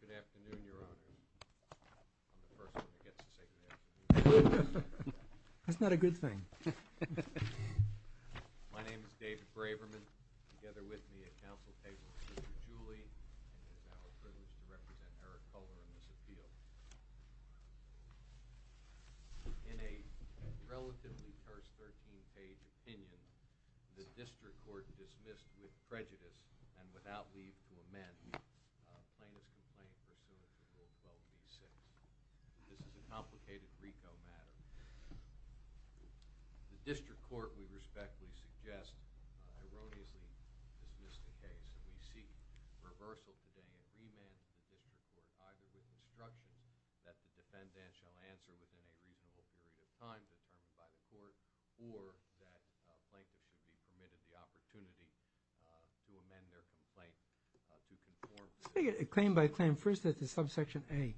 Good afternoon, Your Honors. I'm the first one that gets to say good afternoon. That's not a good thing. My name is David Braverman, together with me at Council Table is Mr. Julie, and it is our privilege to represent Eric Kolar in this appeal. In a relatively terse 13-page opinion, the District Court dismissed with prejudice and without leave to amend Plaintiff's Complaint pursuant to Rule 12b-6. This is a complicated RICO matter. The District Court, we respectfully suggest, erroneously dismissed the case. We seek reversal today and remand the District Court either with instructions that the defendant shall answer within a reasonable period of time determined by the court, or that Plaintiff should be permitted the opportunity to amend their complaint to conform. Claim by claim, first at the subsection A.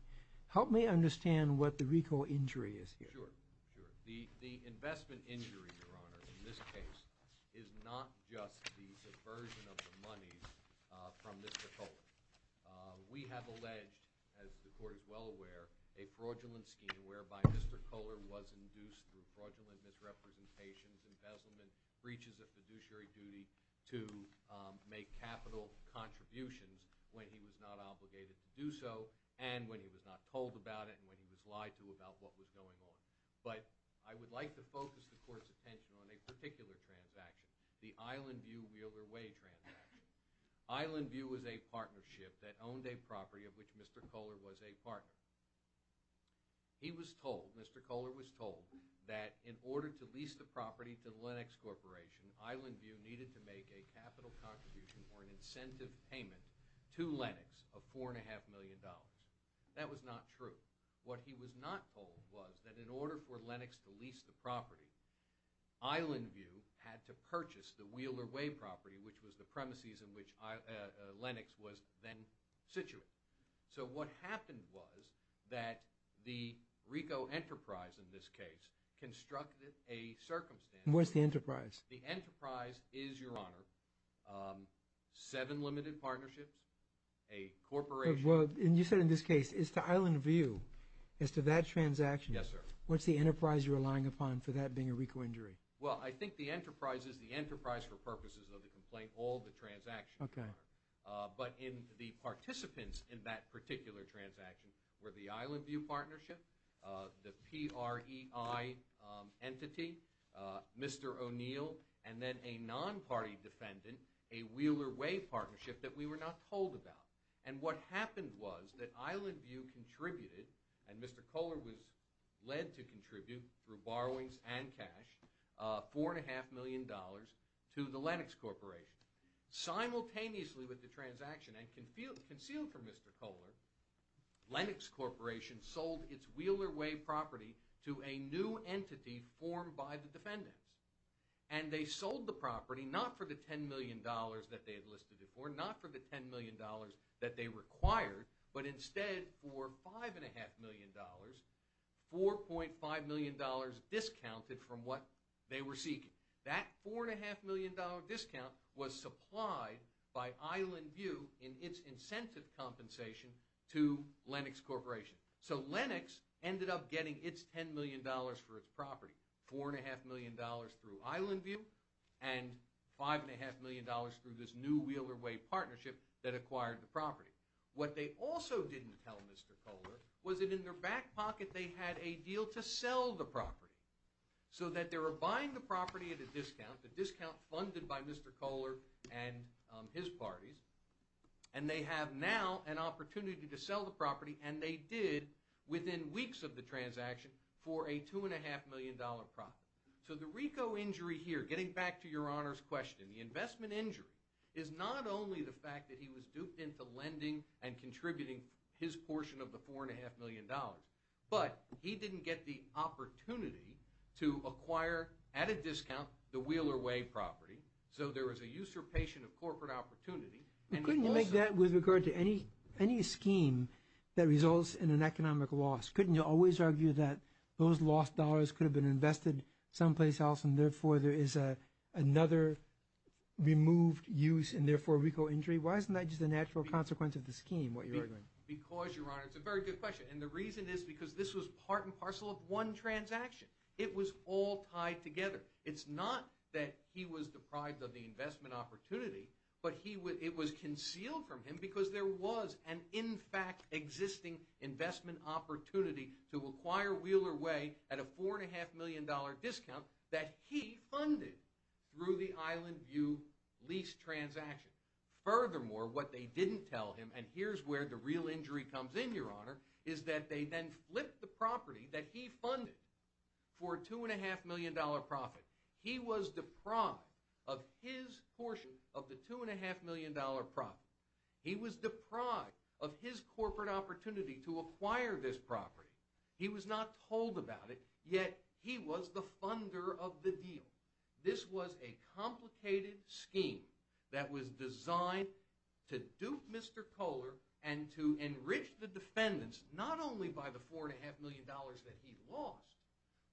Help me understand what the RICO injury is here. Sure, sure. The investment injury, Your Honor, in this case, is not just the subversion of the money from Mr. Kolar. We have alleged, as the Court is well aware, a fraudulent scheme whereby Mr. Kolar was induced through fraudulent misrepresentations, embezzlement, breaches of fiduciary duty to make capital contributions when he was not obligated to do so, and when he was not told about it, and when he was lied to about what was going on. But I would like to focus the Court's attention on a particular transaction, the Island View Wheeler Way transaction. Island View was a partnership that owned a property of which Mr. Kolar was a partner. He was told, Mr. Kolar was told, that in order to lease the property to the Lenox Corporation, Island View needed to make a capital contribution or an incentive payment to Lenox of $4.5 million. That was not true. What he was not told was that in order for Lenox to lease the property, Island View had to purchase the Wheeler Way property, which was the premises in which Lenox was then situated. So what happened was that the RICO Enterprise, in this case, constructed a circumstance. Where's the Enterprise? The Enterprise is, Your Honor, seven limited partnerships, a corporation. Well, and you said in this case, it's the Island View as to that transaction. Yes, sir. What's the Enterprise you're relying upon for that being a RICO injury? Well, I think the Enterprise is the Enterprise for purposes of the complaint, all the transactions, Your Honor. Okay. But the participants in that particular transaction were the Island View partnership, the PREI entity, Mr. O'Neill, and then a non-party defendant, a Wheeler Way partnership that we were not told about. And what happened was that Island View contributed, and Mr. Kolar was led to contribute through borrowings and cash, $4.5 million to the Lenox Corporation. Simultaneously with the transaction, and concealed from Mr. Kolar, Lenox Corporation sold its Wheeler Way property to a new entity formed by the defendants. And they sold the property not for the $10 million that they had listed it for, not for the $10 million that they required, but instead for $5.5 million, $4.5 million discounted from what they were seeking. That $4.5 million discount was supplied by Island View in its incentive compensation to Lenox Corporation. So Lenox ended up getting its $10 million for its property, $4.5 million through Island View, and $5.5 million through this new Wheeler Way partnership that acquired the property. What they also didn't tell Mr. Kolar was that in their back pocket they had a deal to sell the property. So that they were buying the property at a discount, a discount funded by Mr. Kolar and his parties, and they have now an opportunity to sell the property, and they did within weeks of the transaction for a $2.5 million profit. So the RICO injury here, getting back to your Honor's question, the investment injury, is not only the fact that he was duped into lending and contributing his portion of the $4.5 million, but he didn't get the opportunity to acquire at a discount the Wheeler Way property. So there was a usurpation of corporate opportunity. Couldn't you make that with regard to any scheme that results in an economic loss? Couldn't you always argue that those lost dollars could have been invested someplace else, and therefore there is another removed use and therefore RICO injury? Why isn't that just a natural consequence of the scheme, what you're arguing? Because, Your Honor, it's a very good question, and the reason is because this was part and parcel of one transaction. It was all tied together. It's not that he was deprived of the investment opportunity, but it was concealed from him because there was an in fact existing investment opportunity to acquire Wheeler Way at a $4.5 million discount that he funded through the Island View lease transaction. Furthermore, what they didn't tell him, and here's where the real injury comes in, Your Honor, is that they then flipped the property that he funded for a $2.5 million profit. He was deprived of his portion of the $2.5 million profit. He was deprived of his corporate opportunity to acquire this property. He was not told about it, yet he was the funder of the deal. This was a complicated scheme that was designed to dupe Mr. Kohler and to enrich the defendants not only by the $4.5 million that he lost,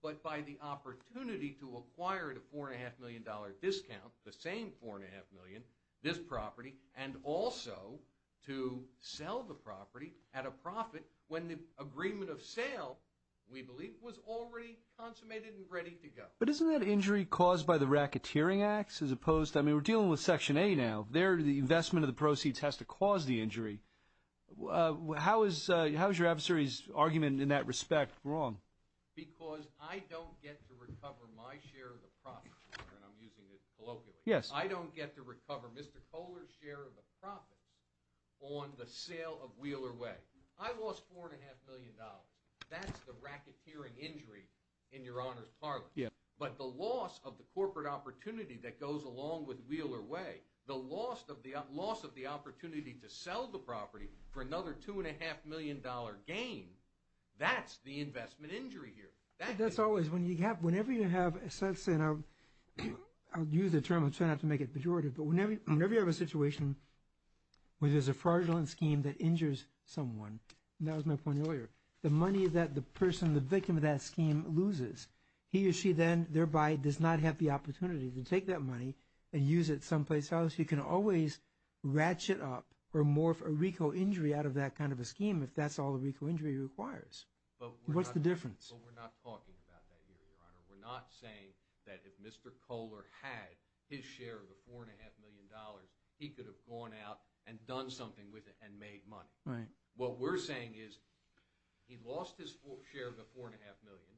but by the opportunity to acquire the $4.5 million discount, the same $4.5 million, this property, and also to sell the property at a profit when the agreement of sale, we believe, was already consummated and ready to go. But isn't that injury caused by the racketeering acts as opposed to, I mean, we're dealing with Section A now. The investment of the proceeds has to cause the injury. How is your adversary's argument in that respect wrong? Because I don't get to recover my share of the profits, Your Honor, and I'm using it colloquially. Yes. I don't get to recover Mr. Kohler's share of the profits on the sale of Wheeler Way. I lost $4.5 million. That's the racketeering injury in Your Honor's parlance. Yes. But the loss of the corporate opportunity that goes along with Wheeler Way, the loss of the opportunity to sell the property for another $2.5 million gain, that's the investment injury here. That's always, whenever you have a sense, and I'll use the term, I'm trying not to make it pejorative, but whenever you have a situation where there's a fraudulent scheme that injures someone, and that was my point earlier, the money that the person, the victim of that scheme loses, he or she then thereby does not have the opportunity to take that money and use it someplace else. You can always ratchet up or morph a RICO injury out of that kind of a scheme if that's all a RICO injury requires. What's the difference? We're not saying that if Mr. Kohler had his share of the $4.5 million, he could have gone out and done something with it and made money. What we're saying is he lost his share of the $4.5 million.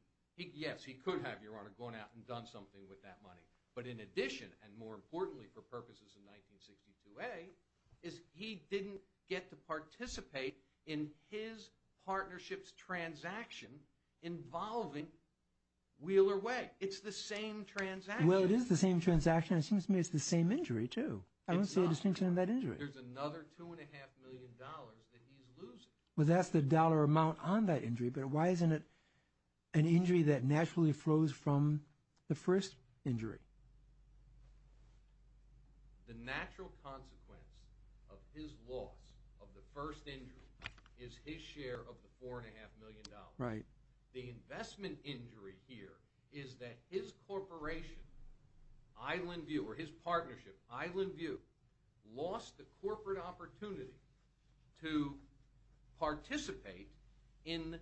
Yes, he could have, Your Honor, gone out and done something with that money. But in addition, and more importantly for purposes of 1962A, is he didn't get to participate in his partnership's transaction involving Wheeler Way. It's the same transaction. Well, it is the same transaction. It seems to me it's the same injury, too. I don't see a distinction in that injury. There's another $2.5 million that he's losing. Well, that's the dollar amount on that injury, but why isn't it an injury that naturally flows from the first injury? The natural consequence of his loss of the first injury is his share of the $4.5 million. Right. The investment injury here is that his corporation, Island View, or his partnership, Island View, lost the corporate opportunity to participate in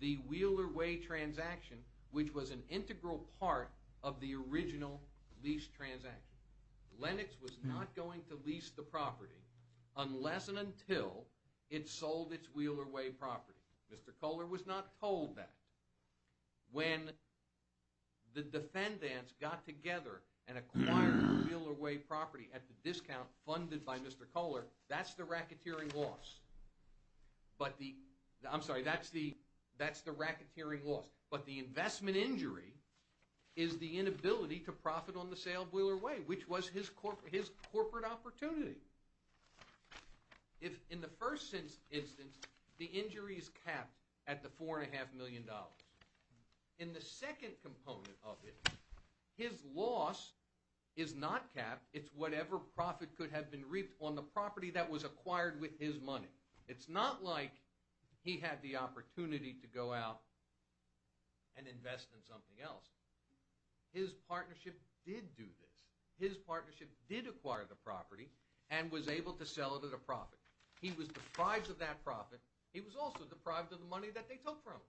the Wheeler Way transaction, which was an integral part of the original lease transaction. Lennox was not going to lease the property unless and until it sold its Wheeler Way property. Mr. Kohler was not told that. When the defendants got together and acquired the Wheeler Way property at the discount funded by Mr. Kohler, that's the racketeering loss. I'm sorry, that's the racketeering loss. But the investment injury is the inability to profit on the sale of Wheeler Way, which was his corporate opportunity. In the first instance, the injury is capped at the $4.5 million. In the second component of it, his loss is not capped. It's whatever profit could have been reaped on the property that was acquired with his money. It's not like he had the opportunity to go out and invest in something else. His partnership did do this. His partnership did acquire the property and was able to sell it at a profit. He was deprived of that profit. He was also deprived of the money that they took from him.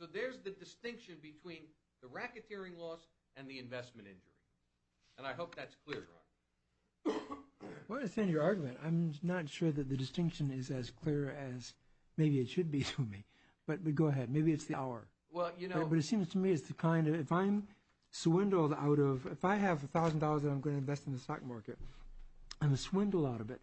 So there's the distinction between the racketeering loss and the investment injury. And I hope that's clear, Ron. I want to understand your argument. I'm not sure that the distinction is as clear as maybe it should be to me. But go ahead. Maybe it's the hour. But it seems to me it's the kind of—if I'm swindled out of— if I have $1,000 that I'm going to invest in the stock market and I'm swindled out of it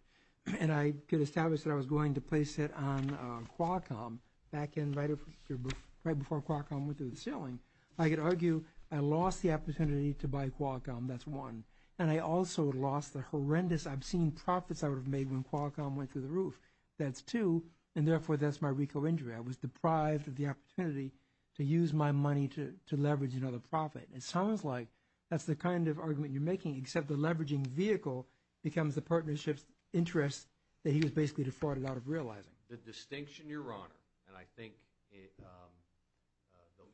and I could establish that I was going to place it on Qualcomm right before Qualcomm went through the ceiling, I could argue I lost the opportunity to buy Qualcomm. That's one. And I also lost the horrendous, obscene profits I would have made when Qualcomm went through the roof. That's two. And therefore, that's my RICO injury. I was deprived of the opportunity to use my money to leverage another profit. It sounds like that's the kind of argument you're making, except the leveraging vehicle becomes the partnership's interest that he was basically defrauded out of realizing. The distinction, Your Honor, and I think the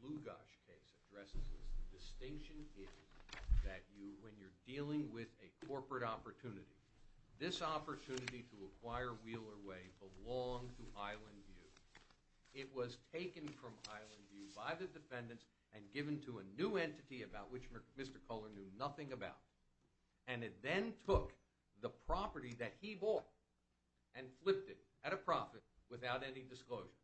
Lugash case addresses this. The distinction is that when you're dealing with a corporate opportunity, this opportunity to acquire Wheeler Way belonged to Island View. It was taken from Island View by the defendants and given to a new entity about which Mr. Culler knew nothing about, and it then took the property that he bought and flipped it at a profit without any disclosure.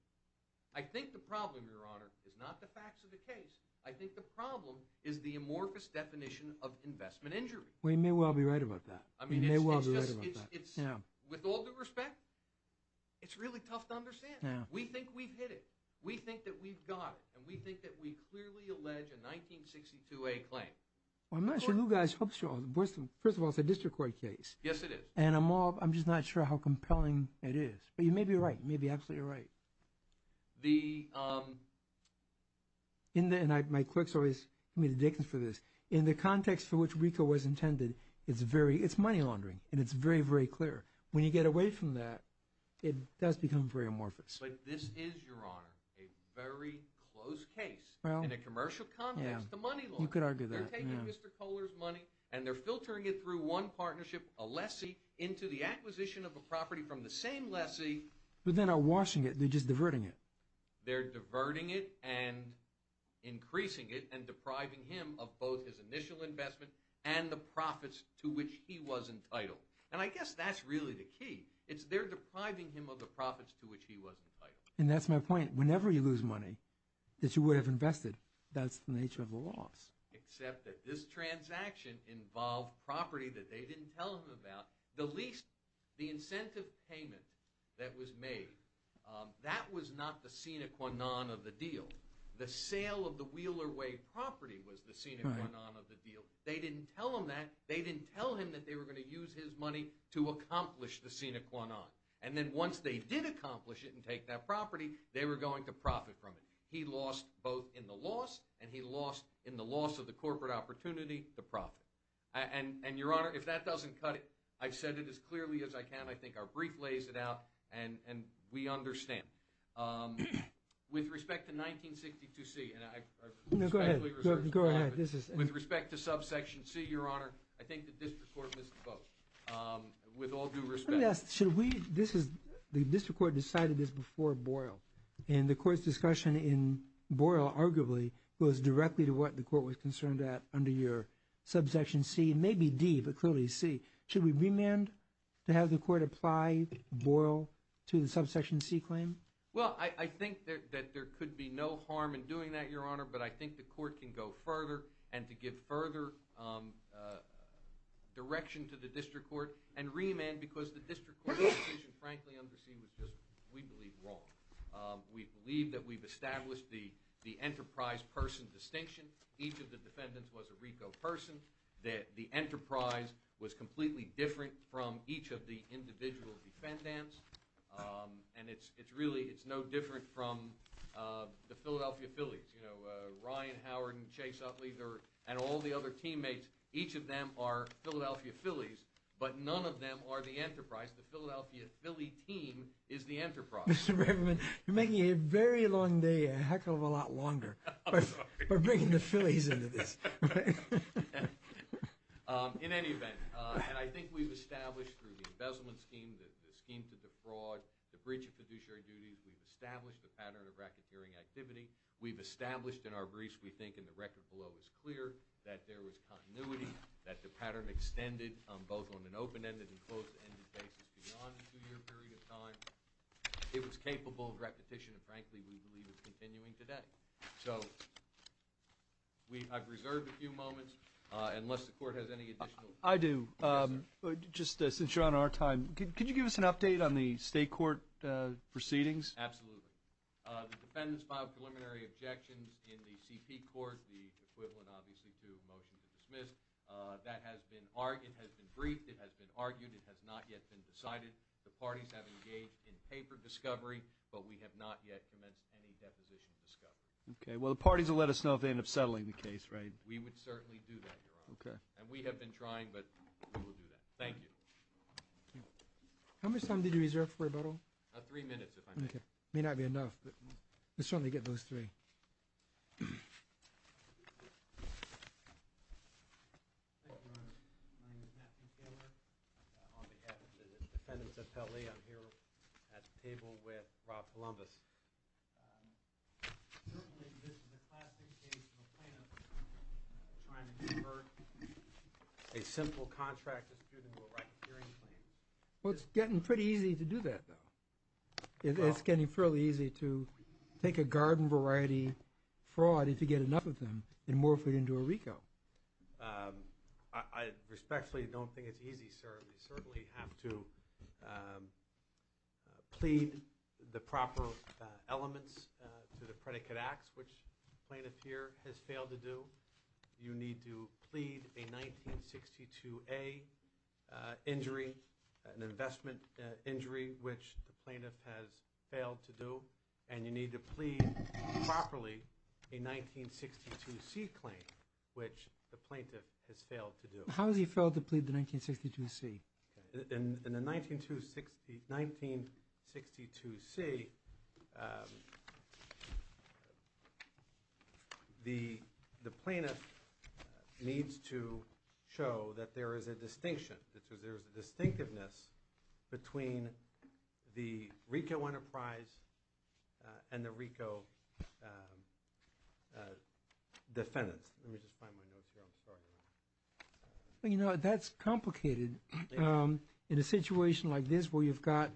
I think the problem, Your Honor, is not the facts of the case. I think the problem is the amorphous definition of investment injury. Well, you may well be right about that. You may well be right about that. With all due respect, it's really tough to understand. We think we've hit it. We think that we've got it, and we think that we clearly allege a 1962A claim. Well, I'm not sure Lugash helps you. First of all, it's a district court case. Yes, it is. And I'm just not sure how compelling it is. But you may be right. You may be absolutely right. And my clerks always give me the dickens for this. In the context for which RICO was intended, it's money laundering, and it's very, very clear. When you get away from that, it does become very amorphous. But this is, Your Honor, a very close case in a commercial context to money laundering. You could argue that. They're taking Mr. Culler's money, and they're filtering it through one partnership, a lessee, into the acquisition of a property from the same lessee. But they're not washing it. They're just diverting it. They're diverting it and increasing it and depriving him of both his initial investment and the profits to which he was entitled. And I guess that's really the key. It's they're depriving him of the profits to which he was entitled. And that's my point. Whenever you lose money that you would have invested, that's the nature of a loss. Except that this transaction involved property that they didn't tell him about. The incentive payment that was made, that was not the sine qua non of the deal. The sale of the Wheeler Way property was the sine qua non of the deal. They didn't tell him that. They didn't tell him that they were going to use his money to accomplish the sine qua non. And then once they did accomplish it and take that property, they were going to profit from it. He lost both in the loss, and he lost in the loss of the corporate opportunity, the profit. And, Your Honor, if that doesn't cut it, I've said it as clearly as I can. I think our brief lays it out, and we understand. With respect to 1962C, and I respectfully reserve the floor. Go ahead. With respect to subsection C, Your Honor, I think the district court missed the boat. With all due respect. Let me ask, should we, this is, the district court decided this before Boyle. And the court's discussion in Boyle, arguably, goes directly to what the court was concerned at under your subsection C, maybe D, but clearly C. Should we remand to have the court apply Boyle to the subsection C claim? Well, I think that there could be no harm in doing that, Your Honor, but I think the court can go further and to give further direction to the district court and remand because the district court's decision, frankly, under C, was just, we believe, wrong. We believe that we've established the enterprise person distinction. Each of the defendants was a RICO person. The enterprise was completely different from each of the individual defendants. And it's really, it's no different from the Philadelphia Phillies. You know, Ryan Howard and Chase Utley and all the other teammates, each of them are Philadelphia Phillies, but none of them are the enterprise. The Philadelphia Philly team is the enterprise. Mr. Reverend, you're making a very long day a heck of a lot longer by bringing the Phillies into this. In any event, and I think we've established through the embezzlement scheme, the scheme to defraud, the breach of fiduciary duties, we've established the pattern of racketeering activity. We've established in our briefs, we think, and the record below is clear, that there was continuity, that the pattern extended both on an open-ended and closed-ended basis beyond a two-year period of time. It was capable of repetition, and frankly, we believe it's continuing today. So I've reserved a few moments, unless the Court has any additional questions. I do. Just since you're on our time, could you give us an update on the state court proceedings? Absolutely. The defendants filed preliminary objections in the CP Court, the equivalent, obviously, to a motion to dismiss. That has been argued, has been briefed, it has been argued, it has not yet been decided. The parties have engaged in paper discovery, but we have not yet commenced any deposition discovery. Well, the parties will let us know if they end up settling the case, right? We would certainly do that, Your Honor, and we have been trying, but we will do that. Thank you. How much time did you reserve for rebuttal? Three minutes, if I may. Okay. It may not be enough, but let's certainly get those three. Thank you, Your Honor. My name is Matthew Taylor. On behalf of the defendants' appellee, I'm here at the table with Rob Columbus. Certainly, this is a classic case of a plaintiff trying to convert a simple contract dispute into a right-of-hearing claim. Well, it's getting pretty easy to do that, though. It's getting fairly easy to take a garden variety fraud, if you get enough of them, and morph it into a RICO. I respectfully don't think it's easy, sir. We certainly have to plead the proper elements to the predicate acts, which the plaintiff here has failed to do. You need to plead a 1962A injury, an investment injury, which the plaintiff has failed to do, and you need to plead properly a 1962C claim, which the plaintiff has failed to do. How has he failed to plead the 1962C? In the 1962C, the plaintiff needs to show that there is a distinction, that there is a distinctiveness between the RICO enterprise and the RICO defendants. Let me just find my notes here. I'm sorry, Your Honor. You know, that's complicated in a situation like this where you've got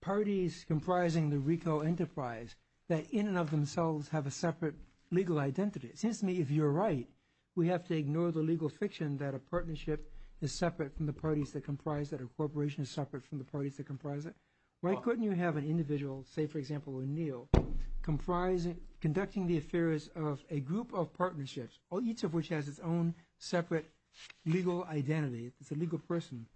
parties comprising the RICO enterprise that in and of themselves have a separate legal identity. It seems to me if you're right, we have to ignore the legal fiction that a partnership is separate from the parties that comprise it, that a corporation is separate from the parties that comprise it. Why couldn't you have an individual, say, for example, O'Neill, conducting the affairs of a group of partnerships, each of which has its own separate legal identity, it's a legal person,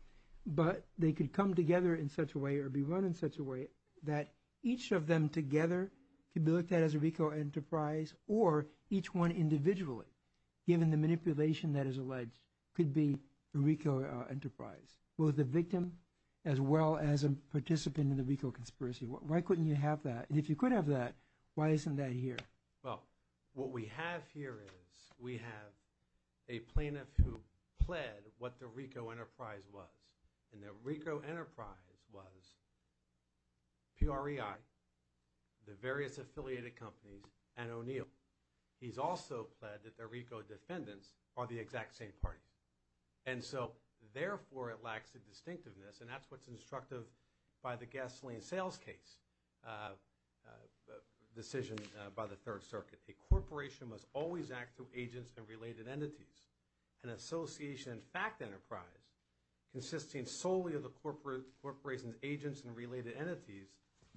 but they could come together in such a way or be run in such a way that each of them together could be looked at as a RICO enterprise or each one individually, given the manipulation that is alleged, could be a RICO enterprise, both the victim as well as a participant in the RICO conspiracy. Why couldn't you have that? And if you could have that, why isn't that here? Well, what we have here is we have a plaintiff who pled what the RICO enterprise was, and the RICO enterprise was PREI, the various affiliated companies, and O'Neill. He's also pled that the RICO defendants are the exact same parties. And so, therefore, it lacks the distinctiveness, and that's what's instructive by the gasoline sales case decision by the Third Circuit. A corporation must always act through agents and related entities. An association fact enterprise consisting solely of the corporation's agents and related entities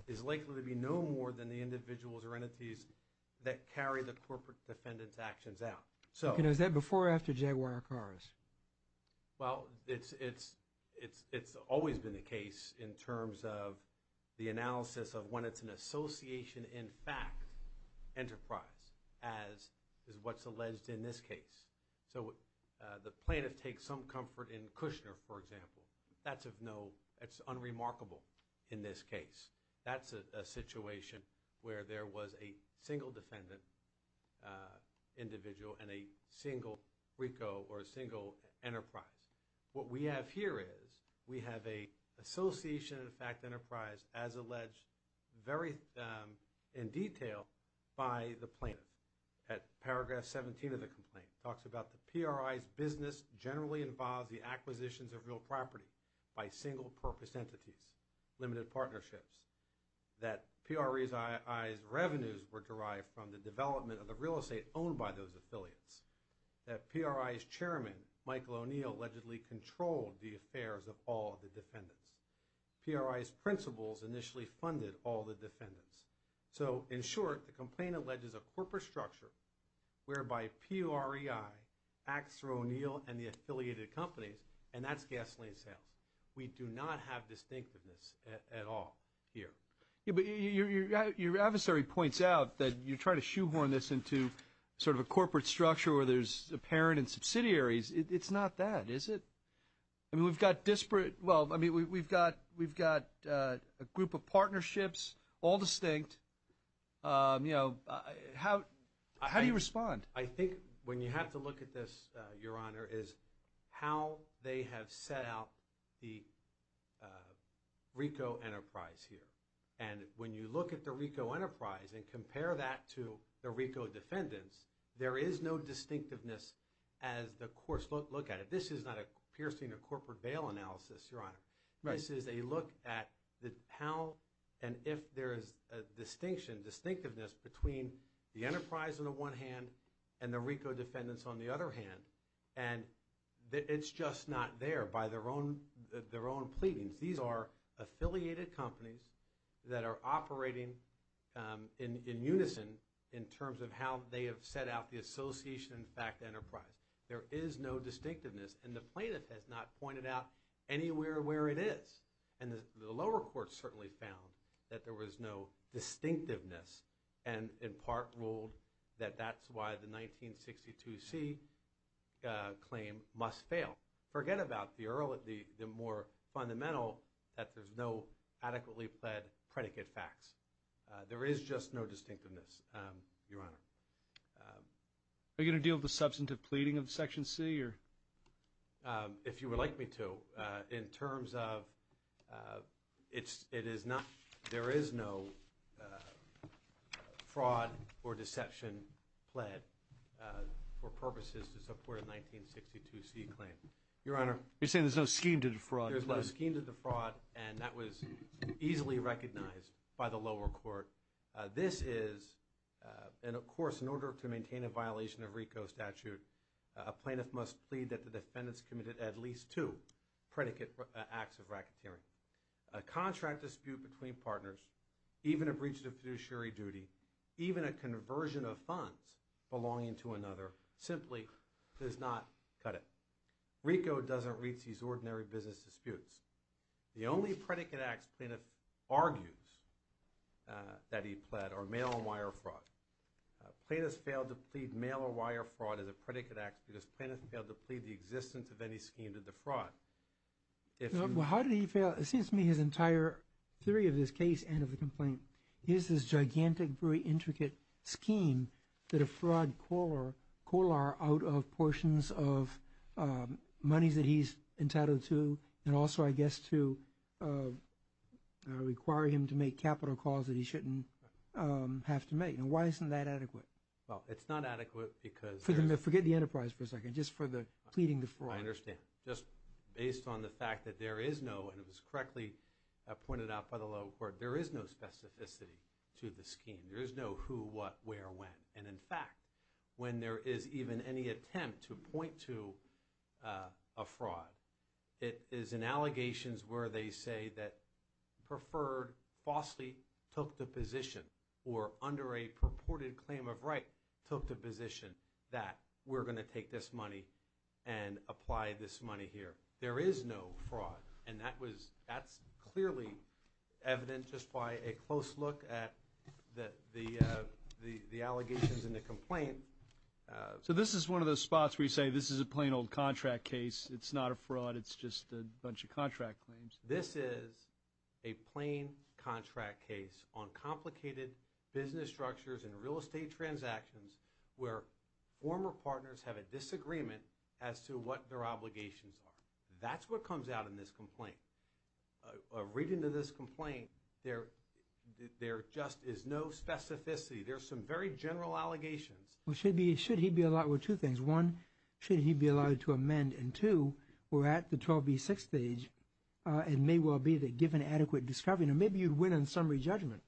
is likely to be no more than the individuals or entities that carry the corporate defendant's actions out. Okay. Now, is that before or after Jaguar cars? Well, it's always been the case in terms of the analysis of when it's an association in fact enterprise, as is what's alleged in this case. So the plaintiff takes some comfort in Kushner, for example. That's of no – it's unremarkable in this case. That's a situation where there was a single defendant individual and a single RICO or a single enterprise. What we have here is we have an association in fact enterprise as alleged very in detail by the plaintiff. At paragraph 17 of the complaint, it talks about the PRI's business generally involves the acquisitions of real property by single purpose entities, limited partnerships. That PRI's revenues were derived from the development of the real estate owned by those affiliates. That PRI's chairman, Michael O'Neill, allegedly controlled the affairs of all the defendants. PRI's principals initially funded all the defendants. So in short, the complaint alleges a corporate structure whereby PRI acts through O'Neill and the affiliated companies, and that's gasoline sales. We do not have distinctiveness at all here. But your adversary points out that you're trying to shoehorn this into sort of a corporate structure where there's a parent and subsidiaries. It's not that, is it? I mean, we've got disparate – well, I mean, we've got a group of partnerships, all distinct. You know, how do you respond? I think when you have to look at this, Your Honor, is how they have set out the RICO enterprise here. And when you look at the RICO enterprise and compare that to the RICO defendants, there is no distinctiveness as the courts look at it. This is not a piercing or corporate bail analysis, Your Honor. This is a look at how and if there is a distinction, distinctiveness, between the enterprise on the one hand and the RICO defendants on the other hand. And it's just not there by their own pleadings. These are affiliated companies that are operating in unison in terms of how they have set out the association-backed enterprise. There is no distinctiveness, and the plaintiff has not pointed out anywhere where it is. And the lower courts certainly found that there was no distinctiveness and in part ruled that that's why the 1962C claim must fail. Forget about the more fundamental that there's no adequately pled predicate facts. There is just no distinctiveness, Your Honor. Are you going to deal with the substantive pleading of Section C or? If you would like me to. In terms of it is not, there is no fraud or deception pled for purposes to support a 1962C claim. Your Honor, you're saying there's no scheme to defraud. There's no scheme to defraud, and that was easily recognized by the lower court. This is, and of course in order to maintain a violation of RICO statute, a plaintiff must plead that the defendants committed at least two predicate acts of racketeering. A contract dispute between partners, even a breach of fiduciary duty, even a conversion of funds belonging to another simply does not cut it. RICO doesn't reach these ordinary business disputes. The only predicate acts plaintiff argues that he pled are mail-on-wire fraud. Plaintiffs failed to plead mail-on-wire fraud as a predicate act because plaintiffs failed to plead the existence of any scheme to defraud. Well, how did he fail? It seems to me his entire theory of this case and of the complaint is this gigantic, very intricate scheme to defraud Kolar out of portions of monies that he's entitled to and also I guess to require him to make capital calls that he shouldn't have to make. And why isn't that adequate? Well, it's not adequate because there's Forget the enterprise for a second, just for the pleading the fraud. I understand. Just based on the fact that there is no, and it was correctly pointed out by the lower court, there is no specificity to the scheme. There is no who, what, where, when. And in fact, when there is even any attempt to point to a fraud, it is in allegations where they say that preferred falsely took the position or under a purported claim of right took the position that we're going to take this money and apply this money here. There is no fraud. And that's clearly evident just by a close look at the allegations in the complaint. So this is one of those spots where you say this is a plain old contract case. It's not a fraud. It's just a bunch of contract claims. This is a plain contract case on complicated business structures and real estate transactions where former partners have a disagreement as to what their obligations are. That's what comes out in this complaint. A reading of this complaint, there just is no specificity. There are some very general allegations. Well, should he be allowed, well, two things. One, should he be allowed to amend? And two, we're at the 12B6 stage. It may well be that given adequate discovery, now maybe you'd win on summary judgment,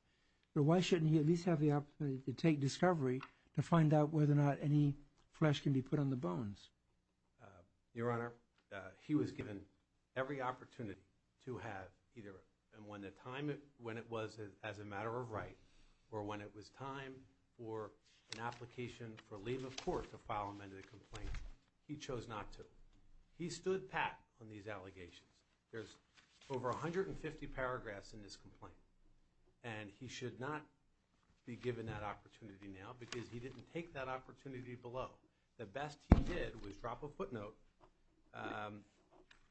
but why shouldn't he at least have the opportunity to take discovery to find out whether or not any flesh can be put on the bones? Your Honor, he was given every opportunity to have either when it was as a matter of right or when it was time for an application for leave of court to file an amended complaint. He chose not to. He stood pat on these allegations. There's over 150 paragraphs in this complaint. And he should not be given that opportunity now because he didn't take that opportunity below. The best he did was drop a footnote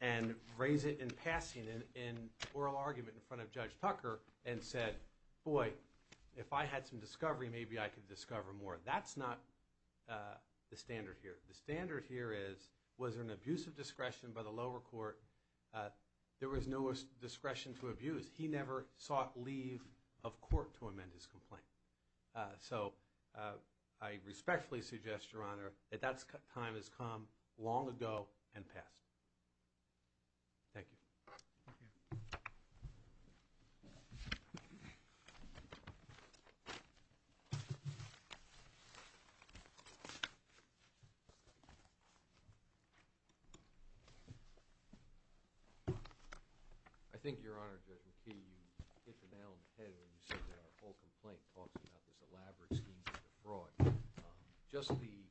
and raise it in passing in oral argument in front of Judge Tucker and said, boy, if I had some discovery, maybe I could discover more. That's not the standard here. The standard here is was there an abuse of discretion by the lower court? There was no discretion to abuse. He never sought leave of court to amend his complaint. So I respectfully suggest, Your Honor, that that time has come long ago and passed. Thank you. Thank you. Thank you. I think, Your Honor, Judge McKee, you hit the nail on the head when you said that our whole complaint talks about this elaborate scheme for fraud. Just the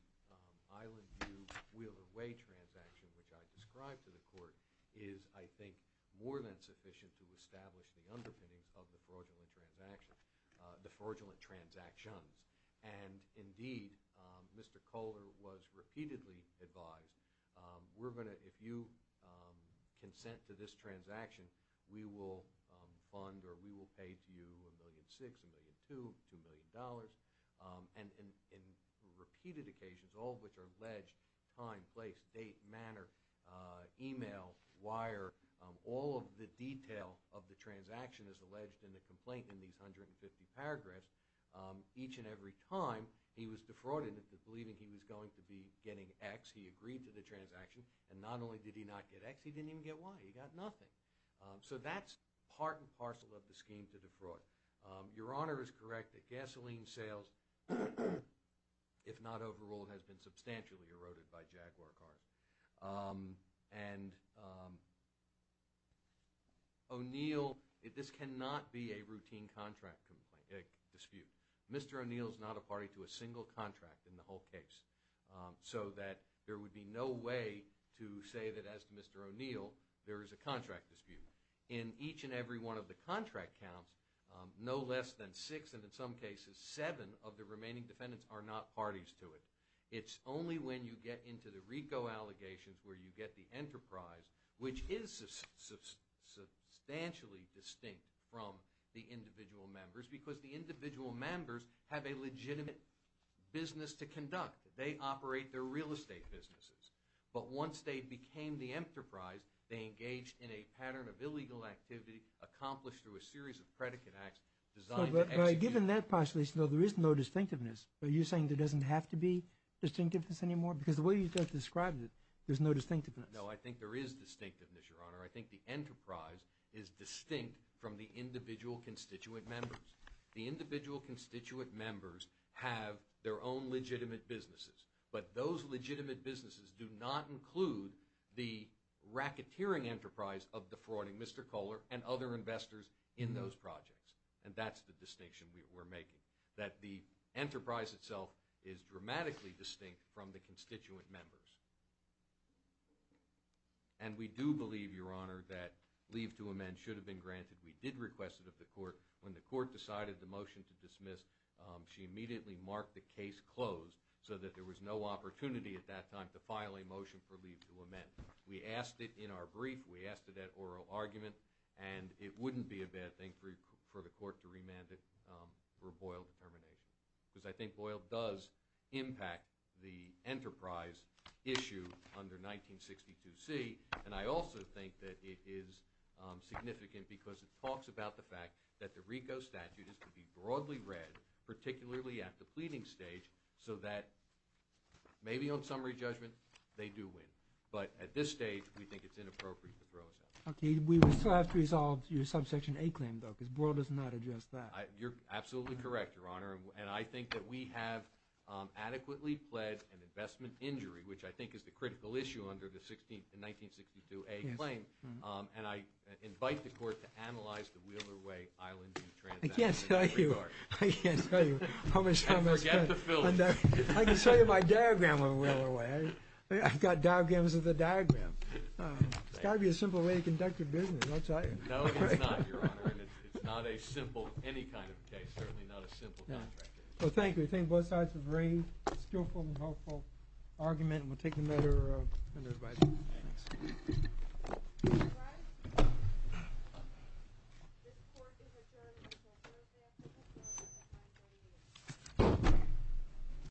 Island View-Wheeler Way transaction, which I described to the court, is, I think, more than sufficient to establish the underpinnings of the fraudulent transaction, the fraudulent transactions. And, indeed, Mr. Kohler was repeatedly advised, we're going to, if you consent to this transaction, we will fund or we will pay to you $1.6 million, $1.2 million, $2 million. And in repeated occasions, all of which are alleged, time, place, date, manner, email, wire, all of the detail of the transaction is alleged in the complaint in these 150 paragraphs. Each and every time he was defrauded into believing he was going to be getting X, he agreed to the transaction. And not only did he not get X, he didn't even get Y. He got nothing. So that's part and parcel of the scheme to defraud. Your Honor is correct that gasoline sales, if not overruled, has been substantially eroded by Jaguar cars. And O'Neill, this cannot be a routine contract dispute. Mr. O'Neill is not a party to a single contract in the whole case. So that there would be no way to say that, as to Mr. O'Neill, there is a contract dispute. In each and every one of the contract counts, no less than six, and in some cases seven, of the remaining defendants are not parties to it. It's only when you get into the RICO allegations where you get the enterprise, which is substantially distinct from the individual members, because the individual members have a legitimate business to conduct. They operate their real estate businesses. But once they became the enterprise, they engaged in a pattern of illegal activity accomplished through a series of predicate acts designed to execute. Given that postulation, though, there is no distinctiveness. Are you saying there doesn't have to be distinctiveness anymore? Because the way you've just described it, there's no distinctiveness. No, I think there is distinctiveness, Your Honor. I think the enterprise is distinct from the individual constituent members. The individual constituent members have their own legitimate businesses. But those legitimate businesses do not include the racketeering enterprise of defrauding Mr. Kohler and other investors in those projects. And that's the distinction we're making, that the enterprise itself is dramatically distinct from the constituent members. And we do believe, Your Honor, that leave to amend should have been granted. We did request it of the court. When the court decided the motion to dismiss, she immediately marked the case closed so that there was no opportunity at that time to file a motion for leave to amend. We asked it in our brief. We asked it at oral argument. And it wouldn't be a bad thing for the court to remand it for Boyle determination. Because I think Boyle does impact the enterprise issue under 1962C. And I also think that it is significant because it talks about the fact that the RICO statute is to be broadly read, particularly at the pleading stage, so that maybe on summary judgment they do win. But at this stage, we think it's inappropriate to throw us out. Okay. We would still have to resolve your Subsection A claim, though, because Boyle does not address that. You're absolutely correct, Your Honor. And I think that we have adequately pled an investment injury, which I think is the critical issue under the 1962A claim. And I invite the court to analyze the Wheeler Way Island transaction. I can't tell you. I can't tell you. I can't tell you how much time has passed. And forget the Philly. I can show you my diagram on Wheeler Way. I've got diagrams of the diagram. It's got to be a simple way to conduct your business. I'll tell you. No, it's not, Your Honor. And it's not a simple any kind of case, certainly not a simple contract case. Well, thank you. I think both sides have raised a skillful and helpful argument. And we'll take no further advice. Thanks. All rise. This court is adjourned until Thursday, October 9, 2018.